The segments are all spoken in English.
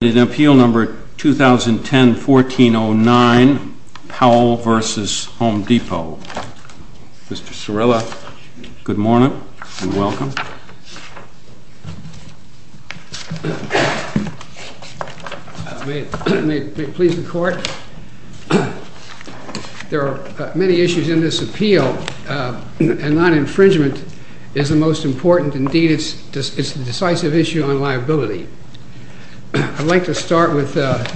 Appeal No. 2010-1409 Powell v. HOME DEPOT. Mr. Cirilla, good morning and welcome. May it please the Court? There are many issues in this appeal, and non-infringement is the most important. Indeed, it's a decisive issue on liability. I'd like to start with a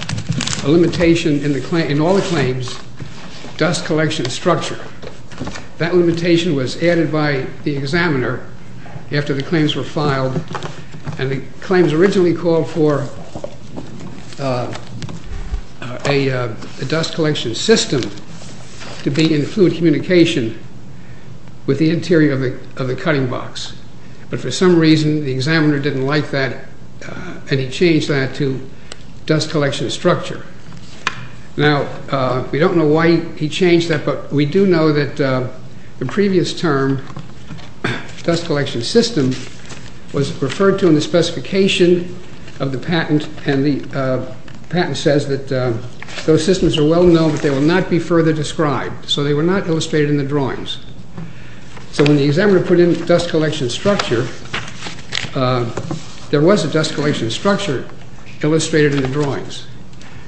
limitation in all the claims, dust collection structure. That limitation was added by the examiner after the claims were filed, and the claims originally called for a dust collection system to be in fluid communication with the interior of the cutting box. But for some reason, the examiner didn't like that, and he changed that to dust collection structure. Now, we don't know why he changed that, but we do know that the previous term, dust collection system, was referred to in the specification of the patent, and the patent says that those systems are well known, but they will not be further described. So they were not illustrated in the drawings. So when the examiner put in dust collection structure, there was a dust collection structure illustrated in the drawings.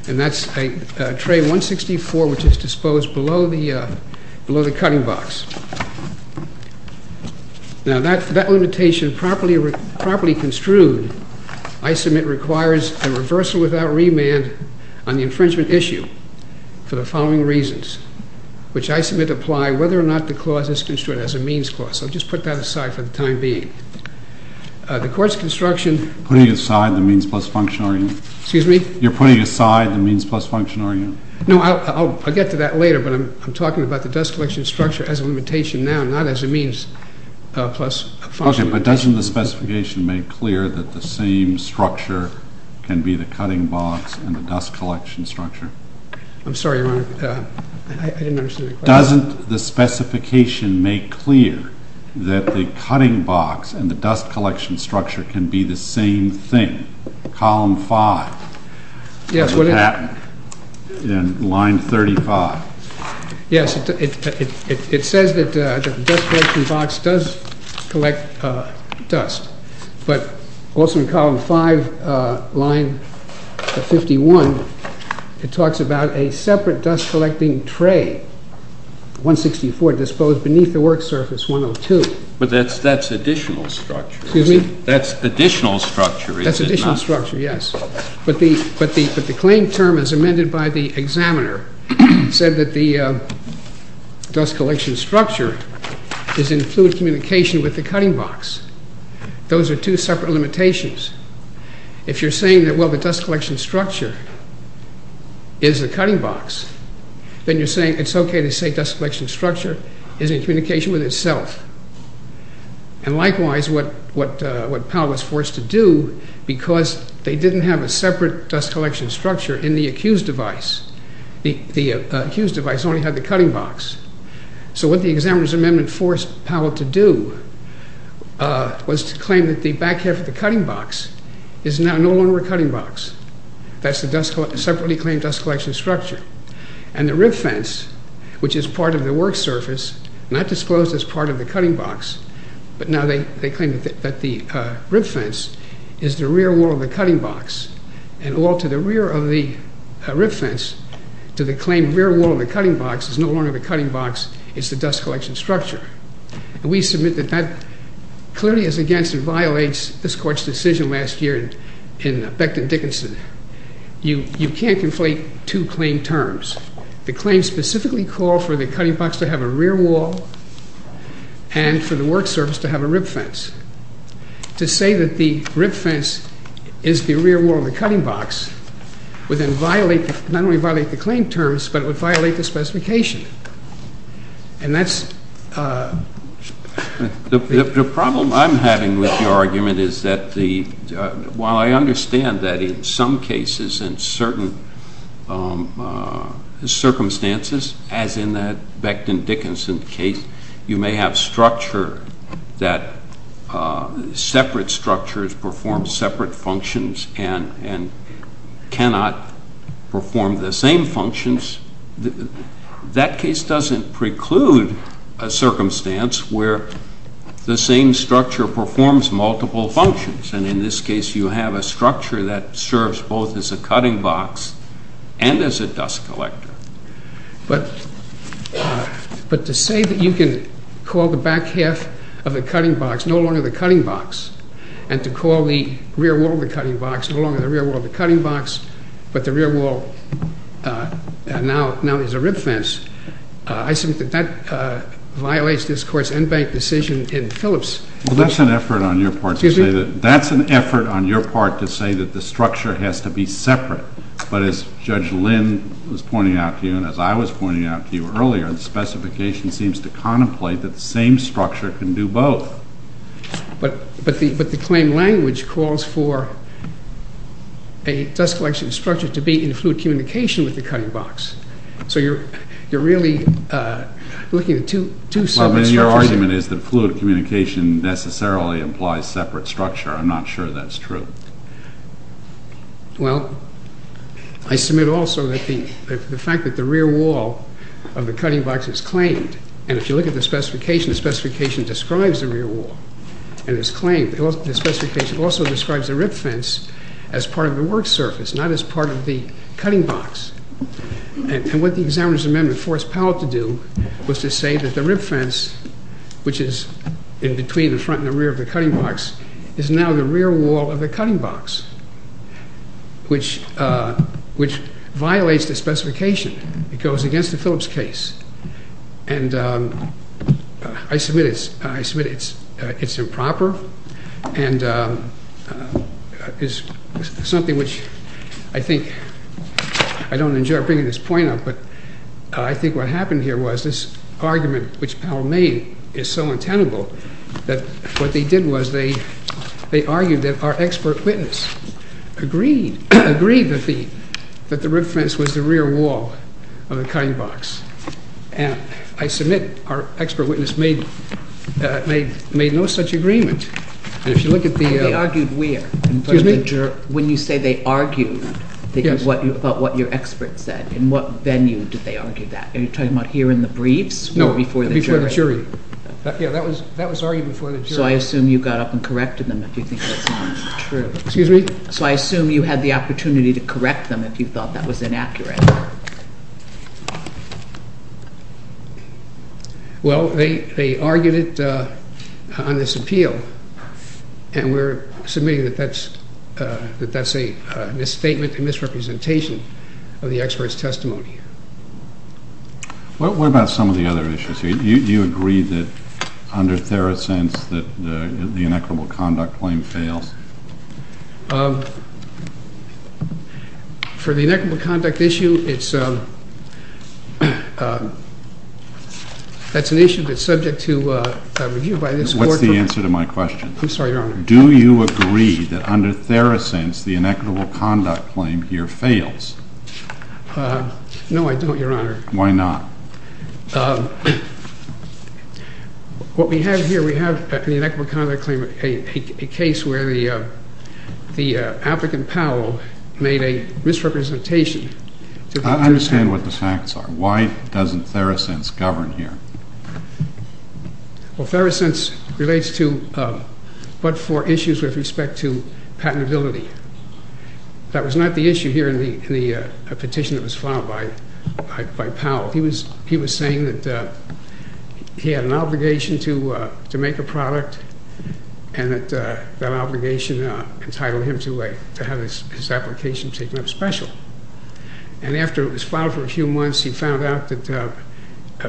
And that's a tray 164, which is disposed below the cutting box. Now, that limitation, properly construed, I submit, requires a reversal without remand on the infringement issue for the following reasons, which I submit apply whether or not the clause is construed as a means clause. I'll just put that aside for the time being. The court's construction... Putting aside the means plus function, are you? Excuse me? You're putting aside the means plus function, are you? No, I'll get to that later, but I'm talking about the dust collection structure as a limitation now, not as a means plus function. Okay, but doesn't the specification make clear that the same structure can be the cutting box and the dust collection structure? I'm sorry, Your Honor, I didn't understand the question. Doesn't the specification make clear that the cutting box and the dust collection structure can be the same thing? Column 5. Yes, well... In line 35. Yes, it says that the dust collection box does collect dust, but also in column 5, line 51, it talks about a separate dust collecting tray, 164, disposed beneath the work surface, 102. But that's additional structure. Excuse me? That's additional structure, is it not? But the claim term as amended by the examiner said that the dust collection structure is in fluid communication with the cutting box. Those are two separate limitations. If you're saying that, well, the dust collection structure is the cutting box, then you're saying it's okay to say dust collection structure is in communication with itself. And likewise, what Powell was forced to do because they didn't have a separate dust collection structure in the accused device. The accused device only had the cutting box. So what the examiner's amendment forced Powell to do was to claim that the back half of the cutting box is now no longer a cutting box. That's the separately claimed dust collection structure. And the rib fence, which is part of the work surface, not disclosed as part of the cutting box, but now they claim that the rib fence is the rear wall of the cutting box. And all to the rear of the rib fence to the claim rear wall of the cutting box is no longer the cutting box, it's the dust collection structure. And we submit that that clearly is against and violates this court's decision last year in Becton Dickinson. You can't conflate two claim terms. The claim specifically called for the cutting box to have a rear wall and for the work surface to have a rib fence. To say that the rib fence is the rear wall of the cutting box would then violate, not only violate the claim terms, but it would violate the specification. And that's... The problem I'm having with your argument is that while I understand that in some cases and certain circumstances, as in that Becton Dickinson case, you may have structure that separate structures perform separate functions and cannot perform the same functions. That case doesn't preclude a circumstance where the same structure performs multiple functions. And in this case you have a structure that serves both as a cutting box and as a dust collector. But to say that you can call the back half of the cutting box no longer the cutting box, and to call the rear wall of the cutting box no longer the rear wall of the cutting box, but the rear wall now is a rib fence, I submit that that violates this court's in-bank decision in Phillips. Well, that's an effort on your part to say that the structure has to be separate. But as Judge Lynn was pointing out to you and as I was pointing out to you earlier, the specification seems to contemplate that the same structure can do both. But the claim language calls for a dust collection structure to be in fluid communication with the cutting box. So you're really looking at two separate structures. Well, then your argument is that fluid communication necessarily implies separate structure. I'm not sure that's true. Well, I submit also that the fact that the rear wall of the cutting box is claimed, and if you look at the specification, the specification describes the rear wall and its claim. The specification also describes the rib fence as part of the work surface, not as part of the cutting box. And what the Examiner's Amendment forced Powell to do was to say that the rib fence, which is in between the front and the rear of the cutting box, is now the rear wall of the cutting box, which violates the specification. It goes against the Phillips case. And I submit it's improper and is something which I think, I don't enjoy bringing this point up, but I think what happened here was this argument which Powell made is so untenable that what they did was they argued that our expert witness agreed that the rib fence was the rear wall of the cutting box. And I submit our expert witness made no such agreement. They argued where? When you say they argued about what your expert said, in what venue did they argue that? Are you talking about here in the briefs or before the jury? No, before the jury. That was argued before the jury. So I assume you got up and corrected them if you think that's not true. Excuse me? So I assume you had the opportunity to correct them if you thought that was inaccurate. Well, they argued it on this appeal and we're submitting that that's a misstatement, a misrepresentation of the expert's testimony. What about some of the other issues here? Do you agree that under Theracent's that the inequitable conduct claim fails? For the inequitable conduct issue, that's an issue that's subject to review by this court. What's the answer to my question? I'm sorry, Your Honor. Do you agree that under Theracent's the inequitable conduct claim here fails? No, I don't, Your Honor. Why not? What we have here, we have in the inequitable conduct claim a case where the applicant Powell made a misrepresentation. I understand what the facts are. Why doesn't Theracent's govern here? Well, Theracent's relates to but for issues with respect to patentability. That was not the issue here in the petition that was filed by Powell. He was saying that he had an obligation to make a product and that obligation entitled him to have his application taken up special. And after it was filed for a few months, he found out that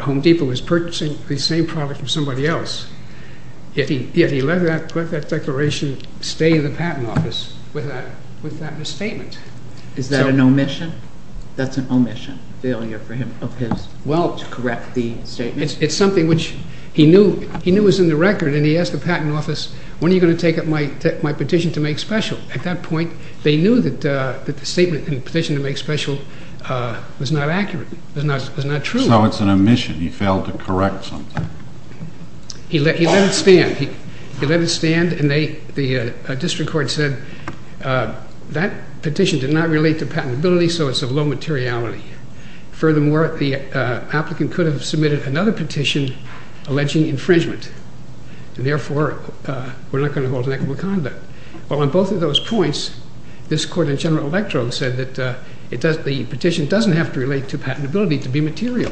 Home Depot was purchasing the same product from somebody else. Yet he let that declaration stay in the patent office with that misstatement. Is that an omission? That's an omission, failure of his? He failed to correct the statement. It's something which he knew was in the record and he asked the patent office, when are you going to take up my petition to make special? At that point, they knew that the statement in the petition to make special was not accurate, was not true. So it's an omission. He failed to correct something. He let it stand. He let it stand and the district court said that petition did not relate to patentability so it's of low materiality. Furthermore, the applicant could have submitted another petition alleging infringement. Therefore, we're not going to hold an equitable conduct. Well, on both of those points, this court in general electrode said that the petition doesn't have to relate to patentability to be material.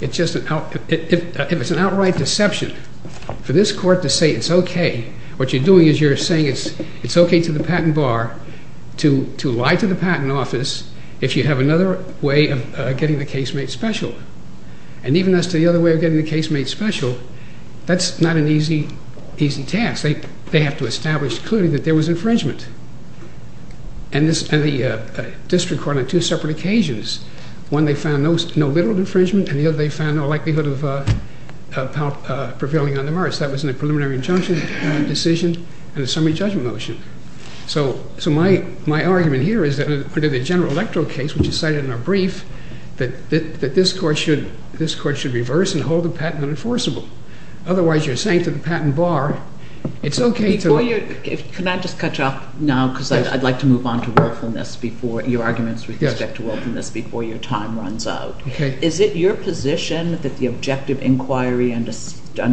If it's an outright deception for this court to say it's okay, what you're doing is you're saying it's okay to the patent bar to lie to the patent office if you have another way of getting the case made special. And even as to the other way of getting the case made special, that's not an easy task. They have to establish clearly that there was infringement. And the district court on two separate occasions, one they found no literal infringement and the other they found no likelihood of prevailing on the merits. That was in a preliminary injunction decision and a summary judgment motion. So my argument here is that under the general electoral case, which is cited in our brief, that this court should reverse and hold the patent unenforceable. Otherwise, you're saying to the patent bar, it's okay to... Before you... Can I just cut you off now because I'd like to move on to willfulness before... your arguments with respect to willfulness before your time runs out. Okay. Is it your position that the objective inquiry under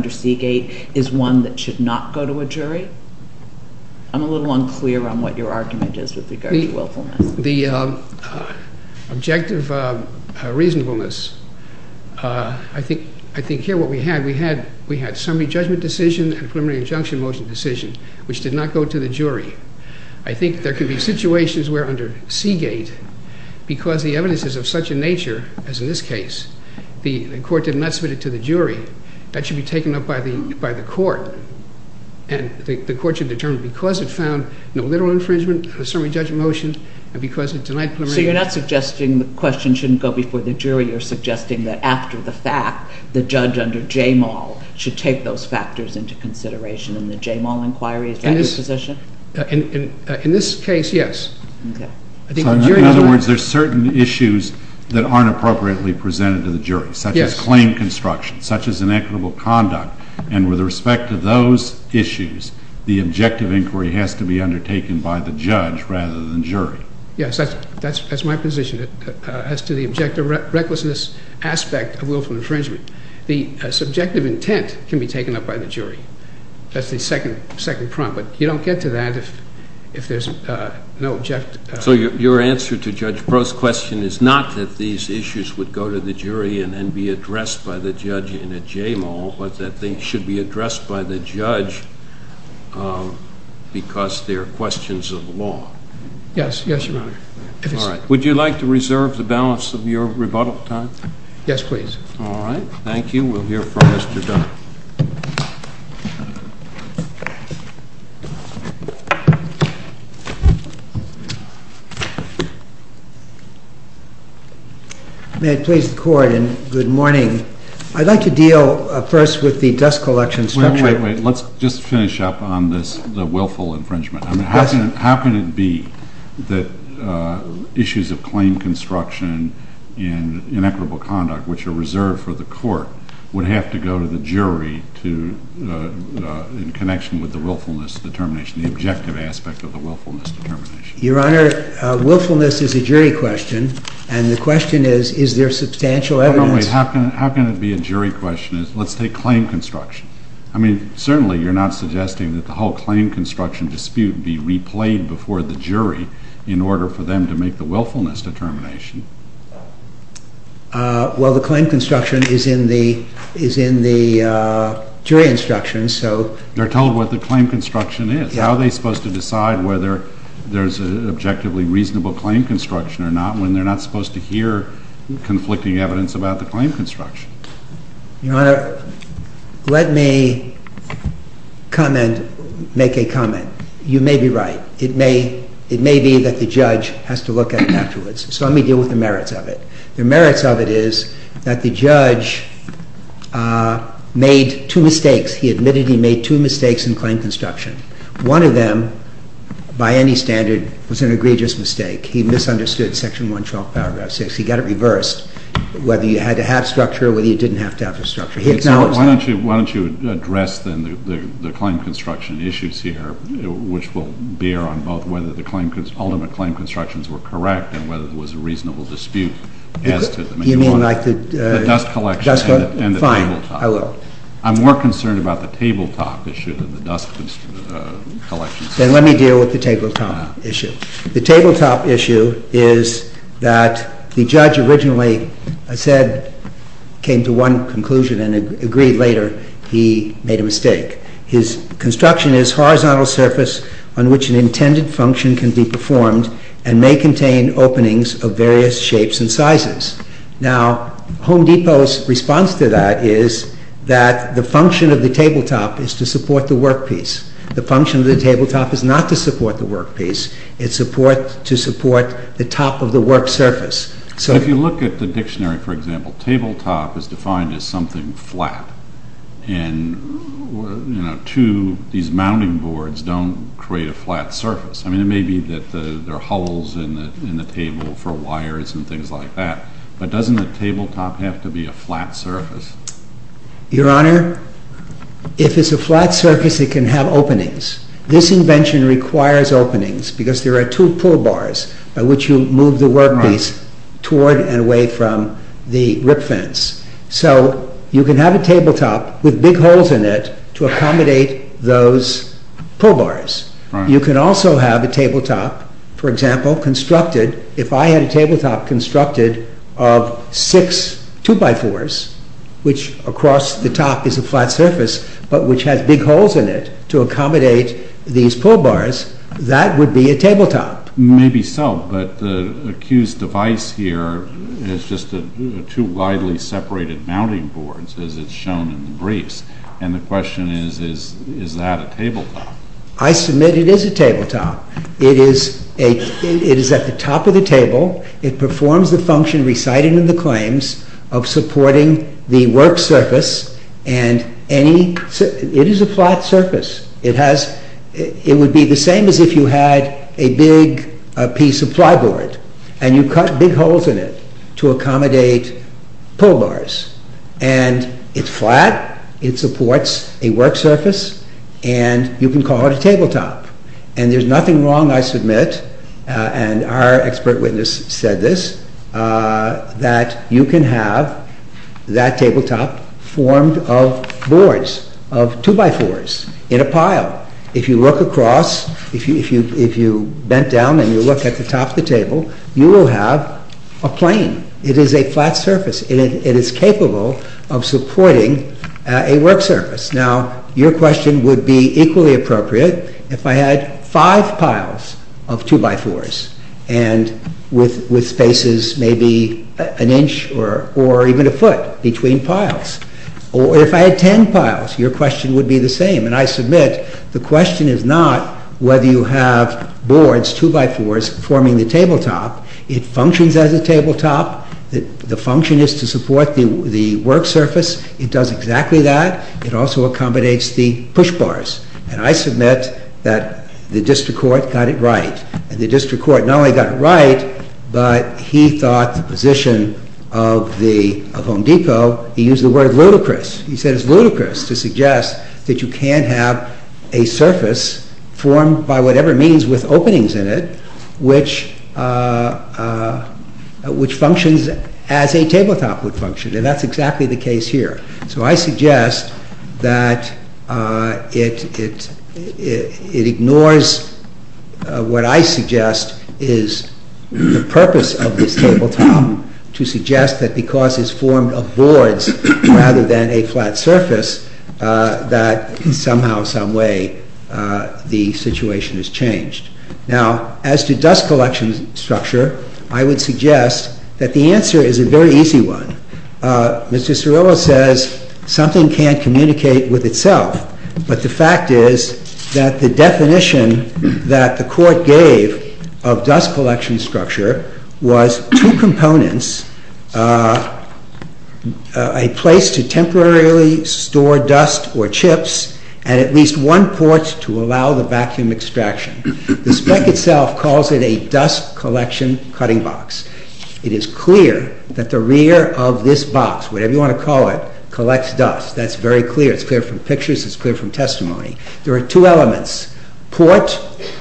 Seagate is one that should not go to a jury? I'm a little unclear on what your argument is with regard to willfulness. The objective reasonableness, I think here what we had, we had summary judgment decision and preliminary injunction motion decision, which did not go to the jury. I think there could be situations where under Seagate, because the evidence is of such a nature as in this case, the court did not submit it to the jury, that should be taken up by the court. And the court should determine because it found no literal infringement, a summary judgment motion, and because it denied preliminary... So you're not suggesting the question shouldn't go before the jury. You're suggesting that after the fact, the judge under Jamal should take those factors into consideration in the Jamal inquiry. Is that your position? In this case, yes. Okay. In other words, there's certain issues that aren't appropriately presented to the jury, such as claim construction, such as inequitable conduct, and with respect to those issues, the objective inquiry has to be undertaken by the judge rather than jury. Yes, that's my position as to the objective recklessness aspect of willful infringement. The subjective intent can be taken up by the jury. That's the second prompt, but you don't get to that if there's no objective... So your answer to Judge Breaux's question is not that these issues would go to the jury and then be addressed by the judge in a Jamal, but that they should be addressed by the judge because they're questions of law. Yes, yes, Your Honor. All right. Would you like to reserve the balance of your rebuttal time? Yes, please. All right. Thank you. We'll hear from Mr. Dunn. May it please the Court, and good morning. I'd like to deal first with the dust collection structure. Wait, wait, wait. Let's just finish up on this, the willful infringement. How can it be that issues of claim construction and inequitable conduct, which are reserved for the court, would have to go to the jury? I mean, how can it be that the jury, in connection with the willfulness determination, the objective aspect of the willfulness determination... Your Honor, willfulness is a jury question, and the question is, is there substantial evidence... No, no, wait. How can it be a jury question? Let's take claim construction. I mean, certainly you're not suggesting that the whole claim construction dispute be replayed before the jury in order for them to make the willfulness determination. Well, the claim construction is in the jury instructions, so... They're told what the claim construction is. How are they supposed to decide whether there's an objectively reasonable claim construction or not when they're not supposed to hear conflicting evidence about the claim construction? Your Honor, let me comment, make a comment. You may be right. It may be that the judge has to look at it afterwards. So let me deal with the merits of it. The merits of it is that the judge made two mistakes. He admitted he made two mistakes in claim construction. One of them, by any standard, was an egregious mistake. He misunderstood Section 112, Paragraph 6. He got it reversed, whether you had to have structure or whether you didn't have to have the structure. Why don't you address, then, the claim construction issues here, which will bear on both whether the ultimate claim constructions were correct or whether there was a reasonable dispute as to them. You mean like the... The dust collection and the tabletop. Fine, I will. I'm more concerned about the tabletop issue than the dust collection. Then let me deal with the tabletop issue. The tabletop issue is that the judge originally said, came to one conclusion and agreed later he made a mistake. His construction is horizontal surface on which an intended function can be performed and may contain openings of various shapes and sizes. Now, Home Depot's response to that is that the function of the tabletop is to support the workpiece. The function of the tabletop is not to support the workpiece. It's to support the top of the work surface. If you look at the dictionary, for example, tabletop is defined as something flat. And, you know, these mounting boards don't create a flat surface. I mean, it may be that there are holes in the table for wires and things like that. But doesn't the tabletop have to be a flat surface? Your Honor, if it's a flat surface, it can have openings. This invention requires openings because there are two pull bars by which you move the workpiece toward and away from the rip fence. So you can have a tabletop with big holes in it to accommodate those pull bars. You can also have a tabletop, for example, constructed, if I had a tabletop constructed of six 2x4s, which across the top is a flat surface, but which has big holes in it to accommodate these pull bars, that would be a tabletop. Maybe so, but the accused device here is just two widely separated mounting boards as it's shown in the briefs. And the question is, is that a tabletop? I must admit it is a tabletop. It is at the top of the table. It performs the function recited in the claims of supporting the work surface. It is a flat surface. It would be the same as if you had a big piece of ply board and you cut big holes in it to accommodate pull bars. And it's flat, it supports a work surface, and you can call it a tabletop. And there's nothing wrong, I submit, and our expert witness said this, that you can have that tabletop formed of boards, of 2x4s, in a pile. If you look across, if you bent down and you look at the top of the table, you will have a plane. It is a flat surface and it is capable of supporting a work surface. Now, your question would be equally appropriate if I had five piles of 2x4s and with spaces maybe an inch or even a foot between piles. Or if I had ten piles, your question would be the same. And I submit, the question is not whether you have boards, 2x4s, forming the tabletop. It functions as a tabletop. The function is to support the work surface. It does exactly that. It also accommodates the push bars. And I submit that the district court got it right. And the district court not only got it right, but he thought the position of Home Depot, he used the word ludicrous. He said it's ludicrous to suggest that you can't have a surface formed by whatever means with openings in it, which functions as a tabletop would function. And that's exactly the case here. So I suggest that it ignores what I suggest is the purpose of this tabletop to suggest that because it's formed of boards rather than a flat surface, that somehow, someway the situation has changed. Now, as to dust collection structure, I would suggest that the answer is a very easy one. Mr. Cirillo says something can't communicate with itself. But the fact is that the definition that the court gave of dust collection structure was two components, a place to temporarily store dust or chips and at least one port to allow the vacuum extraction. The spec itself calls it a dust collection cutting box. It is clear that the rear of this box, whatever you want to call it, collects dust. That's very clear. It's clear from pictures. It's clear from testimony. There are two elements, port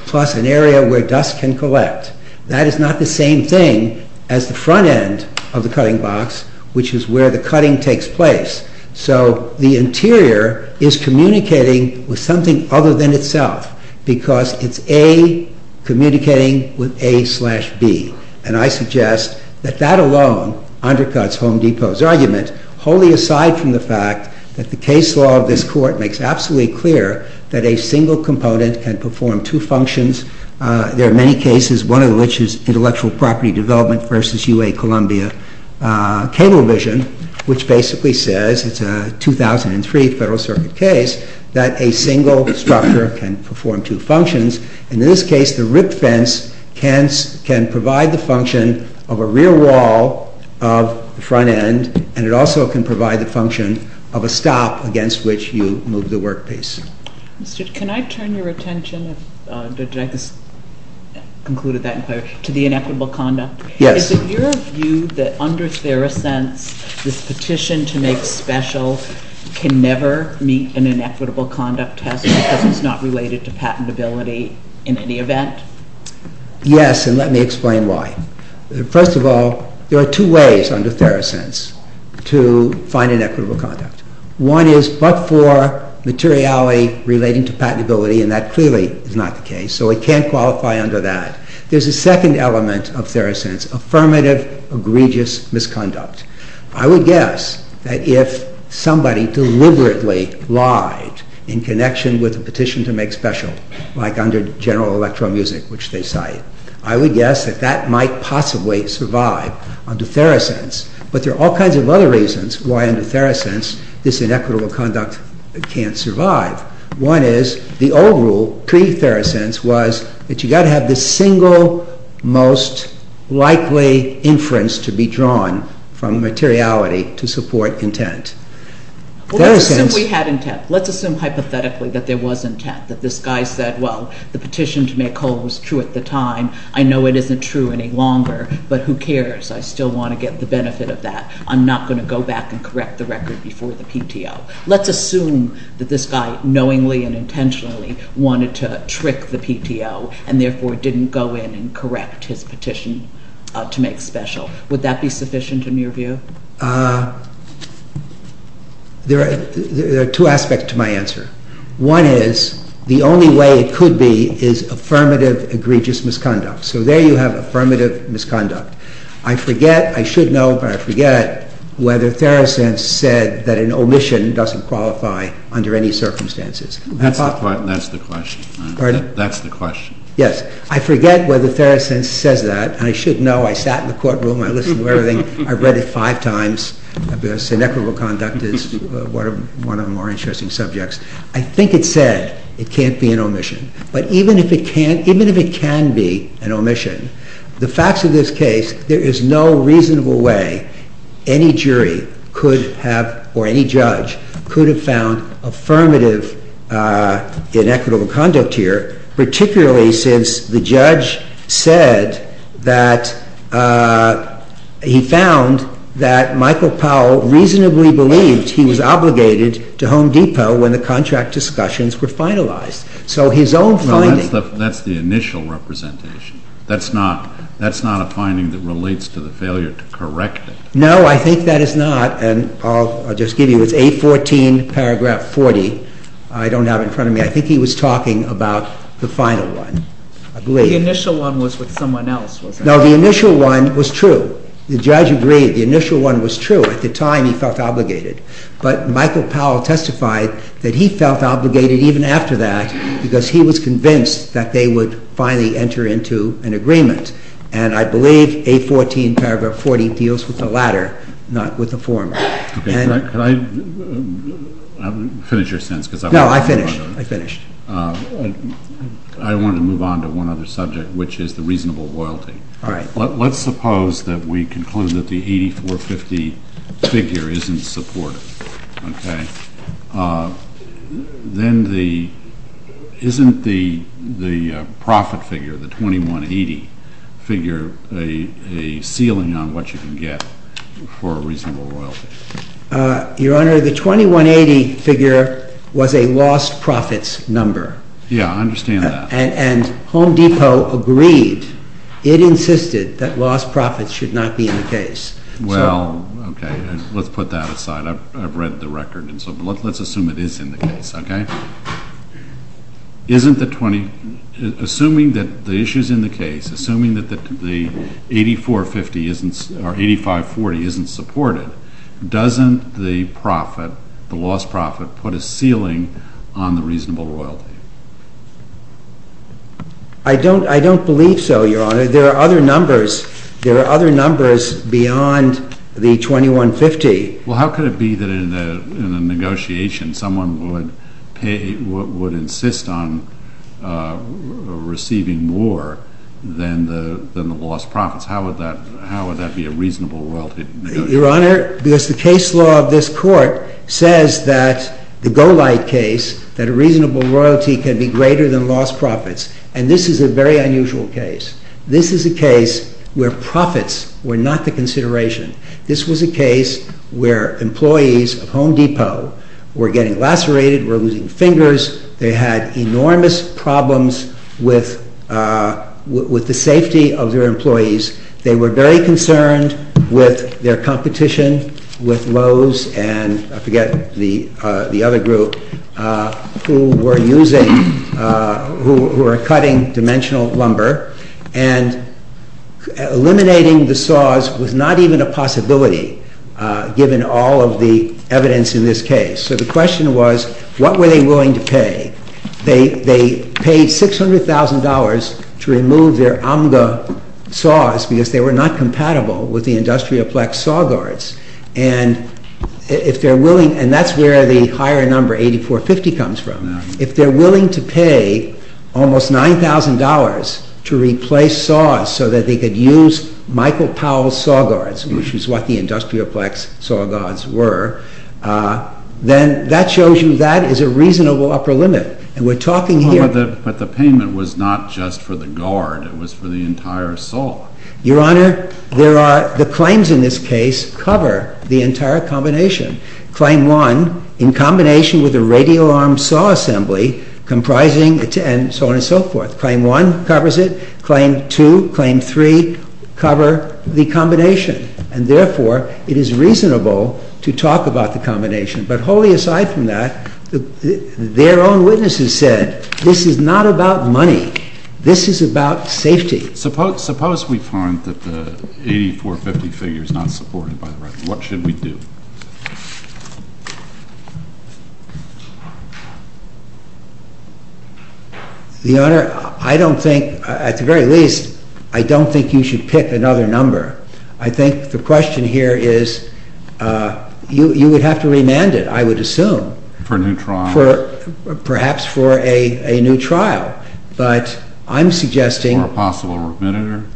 plus an area where dust can collect. That is not the same thing as the front end of the cutting box, which is where the cutting takes place. So the interior is communicating with something other than itself because it's A communicating with A slash B. And I suggest that that alone undercuts Home Depot's argument, wholly aside from the fact that the case law of this court makes absolutely clear that a single component can perform two functions. There are many cases, one of which is intellectual property development versus UA Columbia Cablevision, which basically says, it's a 2003 Federal Circuit case, that a single structure can perform two functions. In this case, the rip fence can provide the function of a rear wall of the front end, and it also can provide the function of a stop against which you move the work piece. Mr. Can I turn your attention, did I just conclude that in clarity, to the inequitable conduct? Yes. Is it your view that under Therosense, this petition to make special can never meet an inequitable conduct test because it's not related to patentability in any event? Yes, and let me explain why. First of all, there are two ways under Therosense to find inequitable conduct. One is but for materiality relating to patentability, and that clearly is not the case. So it can't qualify under that. There's a second element of Therosense, affirmative egregious misconduct. I would guess that if somebody deliberately lied in connection with a petition to make special, like under General Electro Music, which they cite, I would guess that that might possibly survive under Therosense. But there are all kinds of other reasons why under Therosense this inequitable conduct can't survive. One is the old rule pre-Therosense was that you got to have the single most likely inference to be drawn from materiality to support intent. Well, let's assume we had intent. Let's assume hypothetically that there was intent, that this guy said, well, the petition to make whole was true at the time. I know it isn't true any longer, but who cares? I still want to get the benefit of that. I'm not going to go back and correct the record before the PTO. Let's assume that this guy knowingly and intentionally wanted to trick the PTO and therefore didn't go in and correct his petition to make special. Would that be sufficient in your view? There are two aspects to my answer. One is the only way it could be is affirmative egregious misconduct. So there you have affirmative misconduct. I forget, I should know, but I forget whether Therosense said that an omission doesn't qualify under any circumstances. That's the question. Pardon? That's the question. Yes, I forget whether Therosense says that. I should know. I sat in the courtroom. I listened to everything. I read it five times. Inequitable conduct is one of the more interesting subjects. I think it said it can't be an omission. But even if it can be an omission, the facts of this case, there is no reasonable way any jury could have, or any judge, could have found affirmative inequitable conduct here, particularly since the judge said that he found that Michael Powell reasonably believed he was obligated to Home Depot when the contract discussions were finalized. So his own finding... No, that's the initial representation. That's not a finding that relates to the failure to correct it. No, I think that is not. And I'll just give you, it's 814 paragraph 40. I don't have it in front of me. I think he was talking about the final one, I believe. The initial one was with someone else, wasn't it? No, the initial one was true. The judge agreed the initial one was true. At the time, he felt obligated. But Michael Powell testified that he felt obligated even after that because he was convinced that they would finally enter into an agreement. And I believe 814 paragraph 40 deals with the latter, not with the former. Can I finish your sentence? No, I finished. I wanted to move on to one other subject, which is the reasonable loyalty. Let's suppose that we conclude that the 8450 figure isn't supportive. Okay. Then isn't the profit figure, the 2180 figure, a ceiling on what you can get for a reasonable loyalty? Your Honor, the 2180 figure was a lost profits number. Yeah, I understand that. And Home Depot agreed. It insisted that lost profits should not be in the case. Well, okay. Let's put that aside. I've read the record, and so let's assume it is in the case, okay? Isn't the 20—assuming that the issue's in the case, assuming that the 8450 isn't—or 8540 isn't supported, doesn't the profit, the lost profit, put a ceiling on the reasonable loyalty? I don't believe so, Your Honor. There are other numbers. There are other numbers beyond the 2150. Well, how could it be that in the negotiation someone would pay—would insist on receiving more than the lost profits? How would that be a reasonable loyalty negotiation? Your Honor, because the case law of this Court says that—the Golight case— that a reasonable royalty can be greater than lost profits. And this is a very unusual case. This is a case where profits were not the consideration. This was a case where employees of Home Depot were getting lacerated, were losing fingers. They had enormous problems with the safety of their employees. They were very concerned with their competition with Lowe's and—I forget the other group— who were cutting dimensional lumber. And eliminating the saws was not even a possibility, given all of the evidence in this case. So the question was, what were they willing to pay? They paid $600,000 to remove their Amga saws because they were not compatible with the Industrial Plex saw guards. And if they're willing—and that's where the higher number, 8450, comes from. If they're willing to pay almost $9,000 to replace saws so that they could use Michael Powell's saw guards, which is what the Industrial Plex saw guards were, then that shows you that is a reasonable upper limit. And we're talking here— But the payment was not just for the guard. It was for the entire saw. Your Honor, the claims in this case cover the entire combination. Claim 1, in combination with the radial arm saw assembly, comprising—and so on and so forth. Claim 1 covers it. Claim 2, Claim 3 cover the combination. And therefore, it is reasonable to talk about the combination. But wholly aside from that, their own witnesses said, this is not about money. This is about safety. Suppose we find that the 8450 figure is not supported by the record. What should we do? The Honor, I don't think—at the very least, I don't think you should pick another number. I think the question here is—you would have to remand it, I would assume. For a new trial. Perhaps for a new trial. But I'm suggesting— Or a possible remand.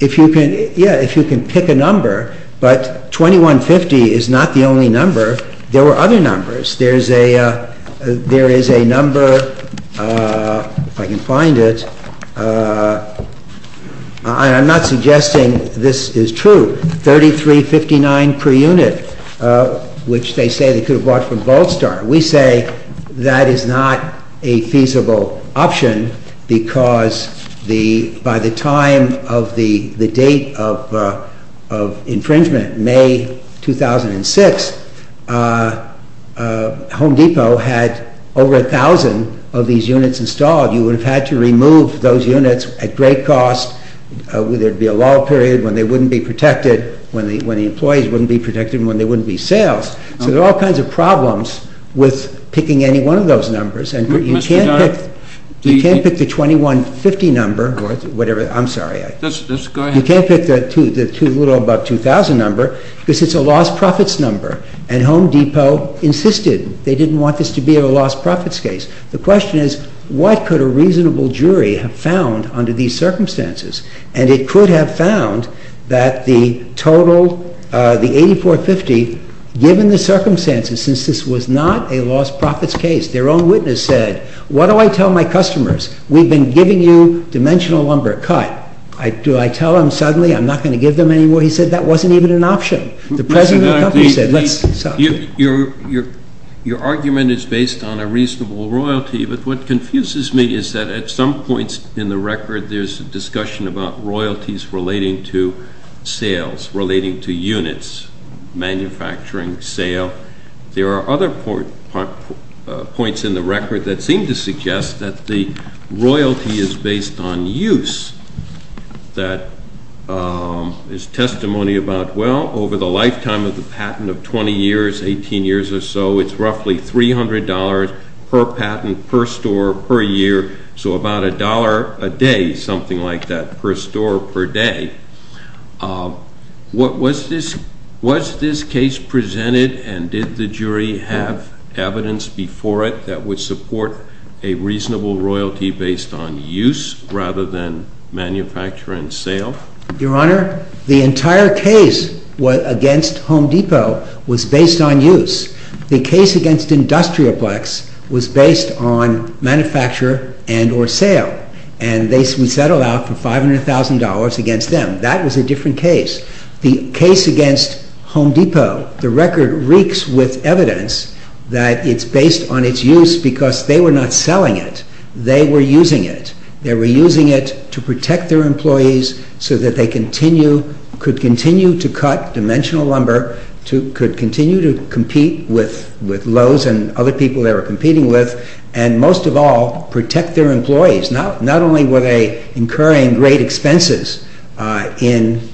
If you can—yeah, if you can pick a number. But 2150 is not the only number. There were other numbers. There is a number—if I can find it. I'm not suggesting this is true. 3359 per unit, which they say they could have bought from Volstar. We say that is not a feasible option because by the time of the date of infringement, May 2006, Home Depot had over a thousand of these units installed. You would have had to remove those units at great cost. There would be a lull period when they wouldn't be protected, when the employees wouldn't be protected, when there wouldn't be sales. So there are all kinds of problems with picking any one of those numbers. And you can't pick the 2150 number or whatever—I'm sorry. Just go ahead. You can't pick the little above 2000 number because it's a lost profits number. And Home Depot insisted they didn't want this to be a lost profits case. The question is, what could a reasonable jury have found under these circumstances? And it could have found that the total, the 8450, given the circumstances, since this was not a lost profits case, their own witness said, what do I tell my customers? We've been giving you dimensional lumber cut. Do I tell them suddenly I'm not going to give them anymore? He said that wasn't even an option. Your argument is based on a reasonable royalty, but what confuses me is that at some points in the record there's a discussion about royalties relating to sales, relating to units, manufacturing, sale. There are other points in the record that seem to suggest that the royalty is based on use that is testimony about, well, over the lifetime of the patent of 20 years, 18 years or so, it's roughly $300 per patent, per store, per year. So about a dollar a day, something like that, per store per day. Was this case presented and did the jury have evidence before it that would support a reasonable royalty based on use rather than manufacture and sale? Your Honor, the entire case against Home Depot was based on use. The case against Industrioplex was based on manufacture and or sale, and we settled out for $500,000 against them. That was a different case. The case against Home Depot, the record reeks with evidence that it's based on its use because they were not selling it. They were using it. They were using it to protect their employees so that they could continue to cut dimensional lumber, could continue to compete with Lowe's and other people they were competing with, and most of all, protect their employees. Not only were they incurring great expenses in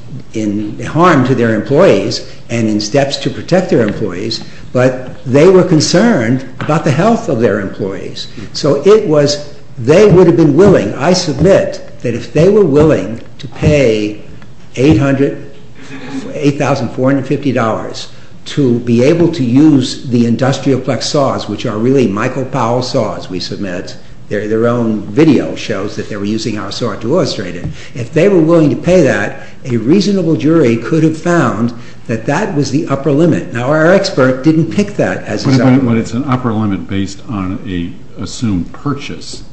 harm to their employees and in steps to protect their employees, but they were concerned about the health of their employees. So it was, they would have been willing, I submit, that if they were willing to pay $8,450 to be able to use the Industrioplex saws, which are really Michael Powell saws, we submit. Their own video shows that they were using our saw to illustrate it. If they were willing to pay that, a reasonable jury could have found that that was the upper limit. Now, our expert didn't pick that as his argument. But it's an upper limit based on an assumed purchase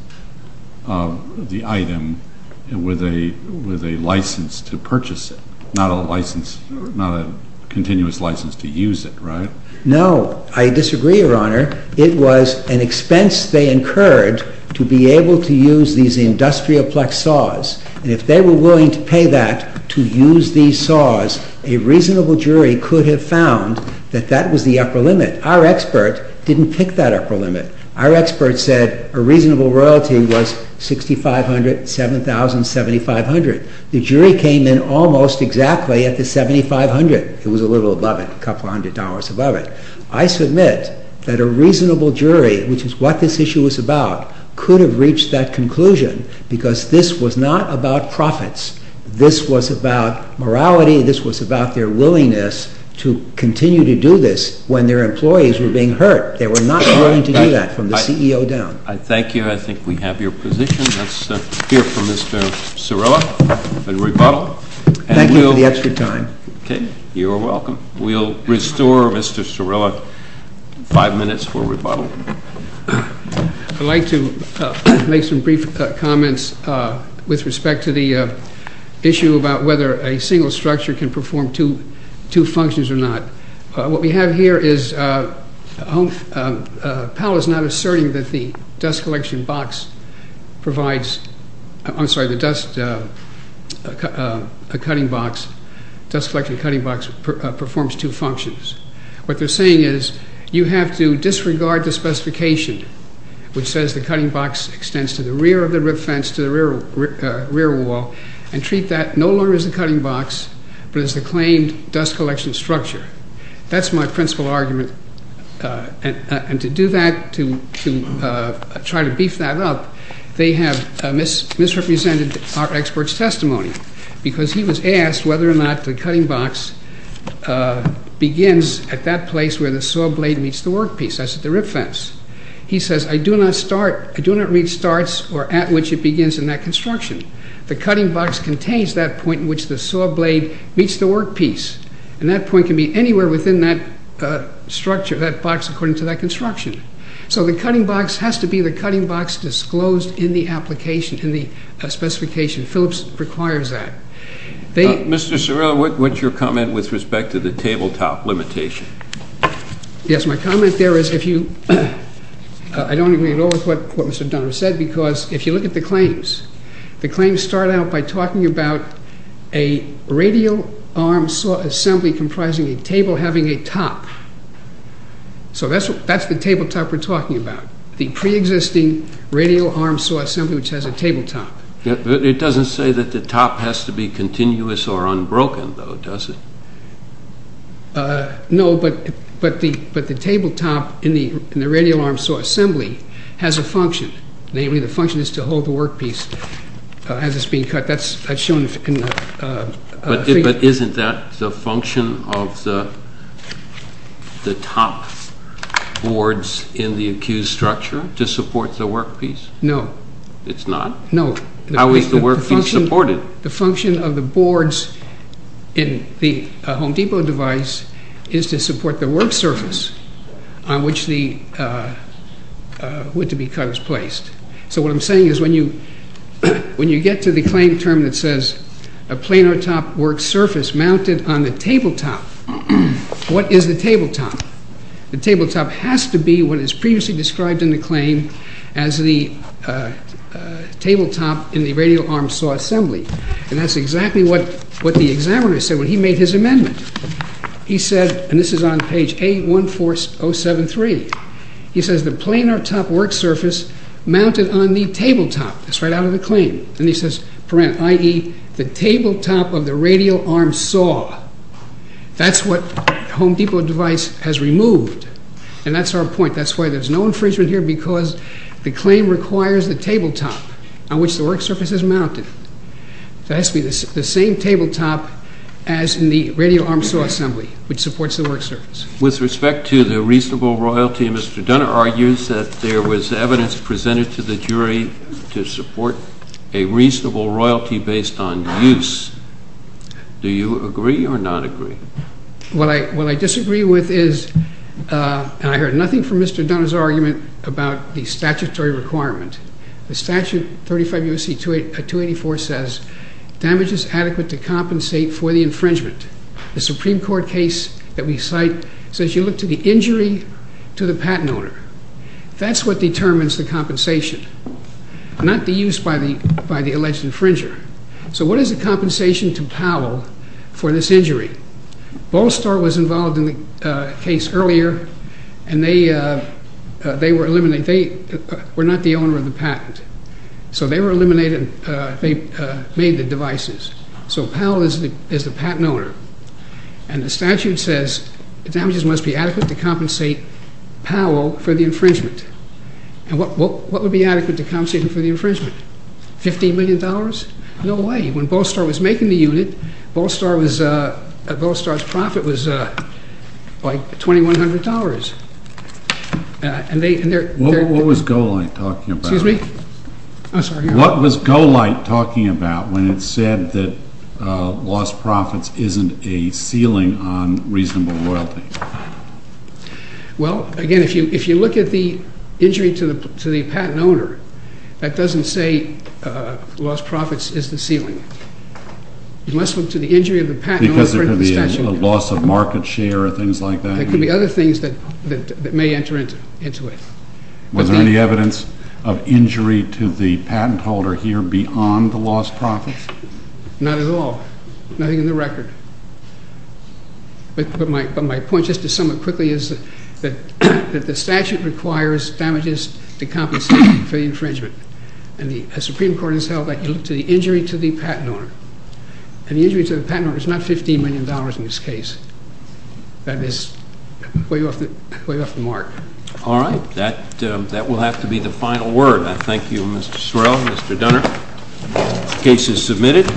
of the item with a license to purchase it, not a license, not a continuous license to use it, right? No, I disagree, Your Honor. It was an expense they incurred to be able to use these Industrioplex saws. And if they were willing to pay that to use these saws, a reasonable jury could have found that that was the upper limit. Our expert didn't pick that upper limit. Our expert said a reasonable royalty was $6,500, $7,000, $7,500. The jury came in almost exactly at the $7,500. It was a little above it, a couple hundred dollars above it. I submit that a reasonable jury, which is what this issue was about, could have reached that conclusion because this was not about profits. This was about morality. This was about their willingness to continue to do this when their employees were being hurt. They were not willing to do that from the CEO down. I thank you. I think we have your position. Let's hear from Mr. Cirilla and rebuttal. Thank you for the extra time. Okay. You're welcome. We'll restore Mr. Cirilla five minutes for rebuttal. I'd like to make some brief comments with respect to the issue about whether a single structure can perform two functions or not. What we have here is, Powell is not asserting that the dust collection box provides, I'm sorry, the dust cutting box, dust collection cutting box performs two functions. What they're saying is you have to disregard the specification which says the cutting box extends to the rear of the rip fence, to the rear wall, and treat that no longer as a cutting box, but as the claimed dust collection structure. That's my principal argument. And to do that, to try to beef that up, they have misrepresented our expert's testimony because he was asked whether or not the cutting box begins at that place where the saw blade meets the work piece, that's at the rip fence. He says, I do not start, I do not read starts or at which it begins in that construction. The cutting box contains that point in which the saw blade meets the work piece. And that point can be anywhere within that structure, that box according to that construction. So the cutting box has to be the cutting box disclosed in the application, in the specification. Phillips requires that. Mr. Cerullo, what's your comment with respect to the tabletop limitation? Yes, my comment there is if you, I don't agree at all with what Mr. Dunner said because if you look at the claims, the claims start out by talking about a radial arm saw assembly comprising a table having a top. So that's the tabletop we're talking about. The pre-existing radial arm saw assembly which has a tabletop. It doesn't say that the top has to be continuous or unbroken though, does it? No, but the tabletop in the radial arm saw assembly has a function. Namely, the function is to hold the work piece as it's being cut. In fact, that's shown in the figure. But isn't that the function of the top boards in the accused structure to support the work piece? No. It's not? No. How is the work piece supported? The function of the boards in the Home Depot device is to support the work surface on which the wood to be cut is placed. So what I'm saying is when you, when you get to the claim term that says a planar top work surface mounted on the tabletop, what is the tabletop? The tabletop has to be what is previously described in the claim as the tabletop in the radial arm saw assembly. And that's exactly what the examiner said when he made his amendment. He said, and this is on page A14073, he says the planar top work surface mounted on the tabletop. That's right out of the claim. And he says, i.e., the tabletop of the radial arm saw. That's what the Home Depot device has removed. And that's our point. That's why there's no infringement here because the claim requires the tabletop on which the work surface is mounted. That has to be the same tabletop as in the radial arm saw assembly which supports the work surface. With respect to the reasonable royalty, Mr. Dunner argues that there was evidence presented to the jury to support a reasonable royalty based on use. Do you agree or not agree? What I disagree with is, and I heard nothing from Mr. Dunner's argument about the statutory requirement. The statute 35 U.S.C. 284 says damage is adequate to compensate for the infringement. The Supreme Court case that we cite says you look to the injury to the patent owner. That's what determines the compensation, not the use by the alleged infringer. So what is the compensation to Powell for this injury? Ball Star was involved in the case earlier and they were not the owner of the patent. So they were eliminated. They made the devices. So Powell is the patent owner. And the statute says the damages must be adequate to compensate Powell for the infringement. And what would be adequate to compensate him for the infringement? $15 million? No way. When Ball Star was making the unit, Ball Star's profit was like $2,100. What was Golight talking about? Excuse me? What was Golight talking about when it said that lost profits isn't a ceiling on reasonable loyalty? Well, again, if you look at the injury to the patent owner, that doesn't say lost profits is the ceiling. You must look to the injury of the patent owner because there could be a loss of market share or things like that. There could be other things that may enter into it. Was there any evidence of injury to the patent holder here beyond the lost profits? Not at all. Nothing in the record. But my point, just to sum it quickly, is that the statute requires damages to compensate for the infringement. And the Supreme Court has held that you look to the injury to the patent owner. And the injury to the patent owner is not $15 million in this case. That is way off the mark. All right. That will have to be the final word. I thank you, Mr. Sorrell, Mr. Dunner. Case is submitted.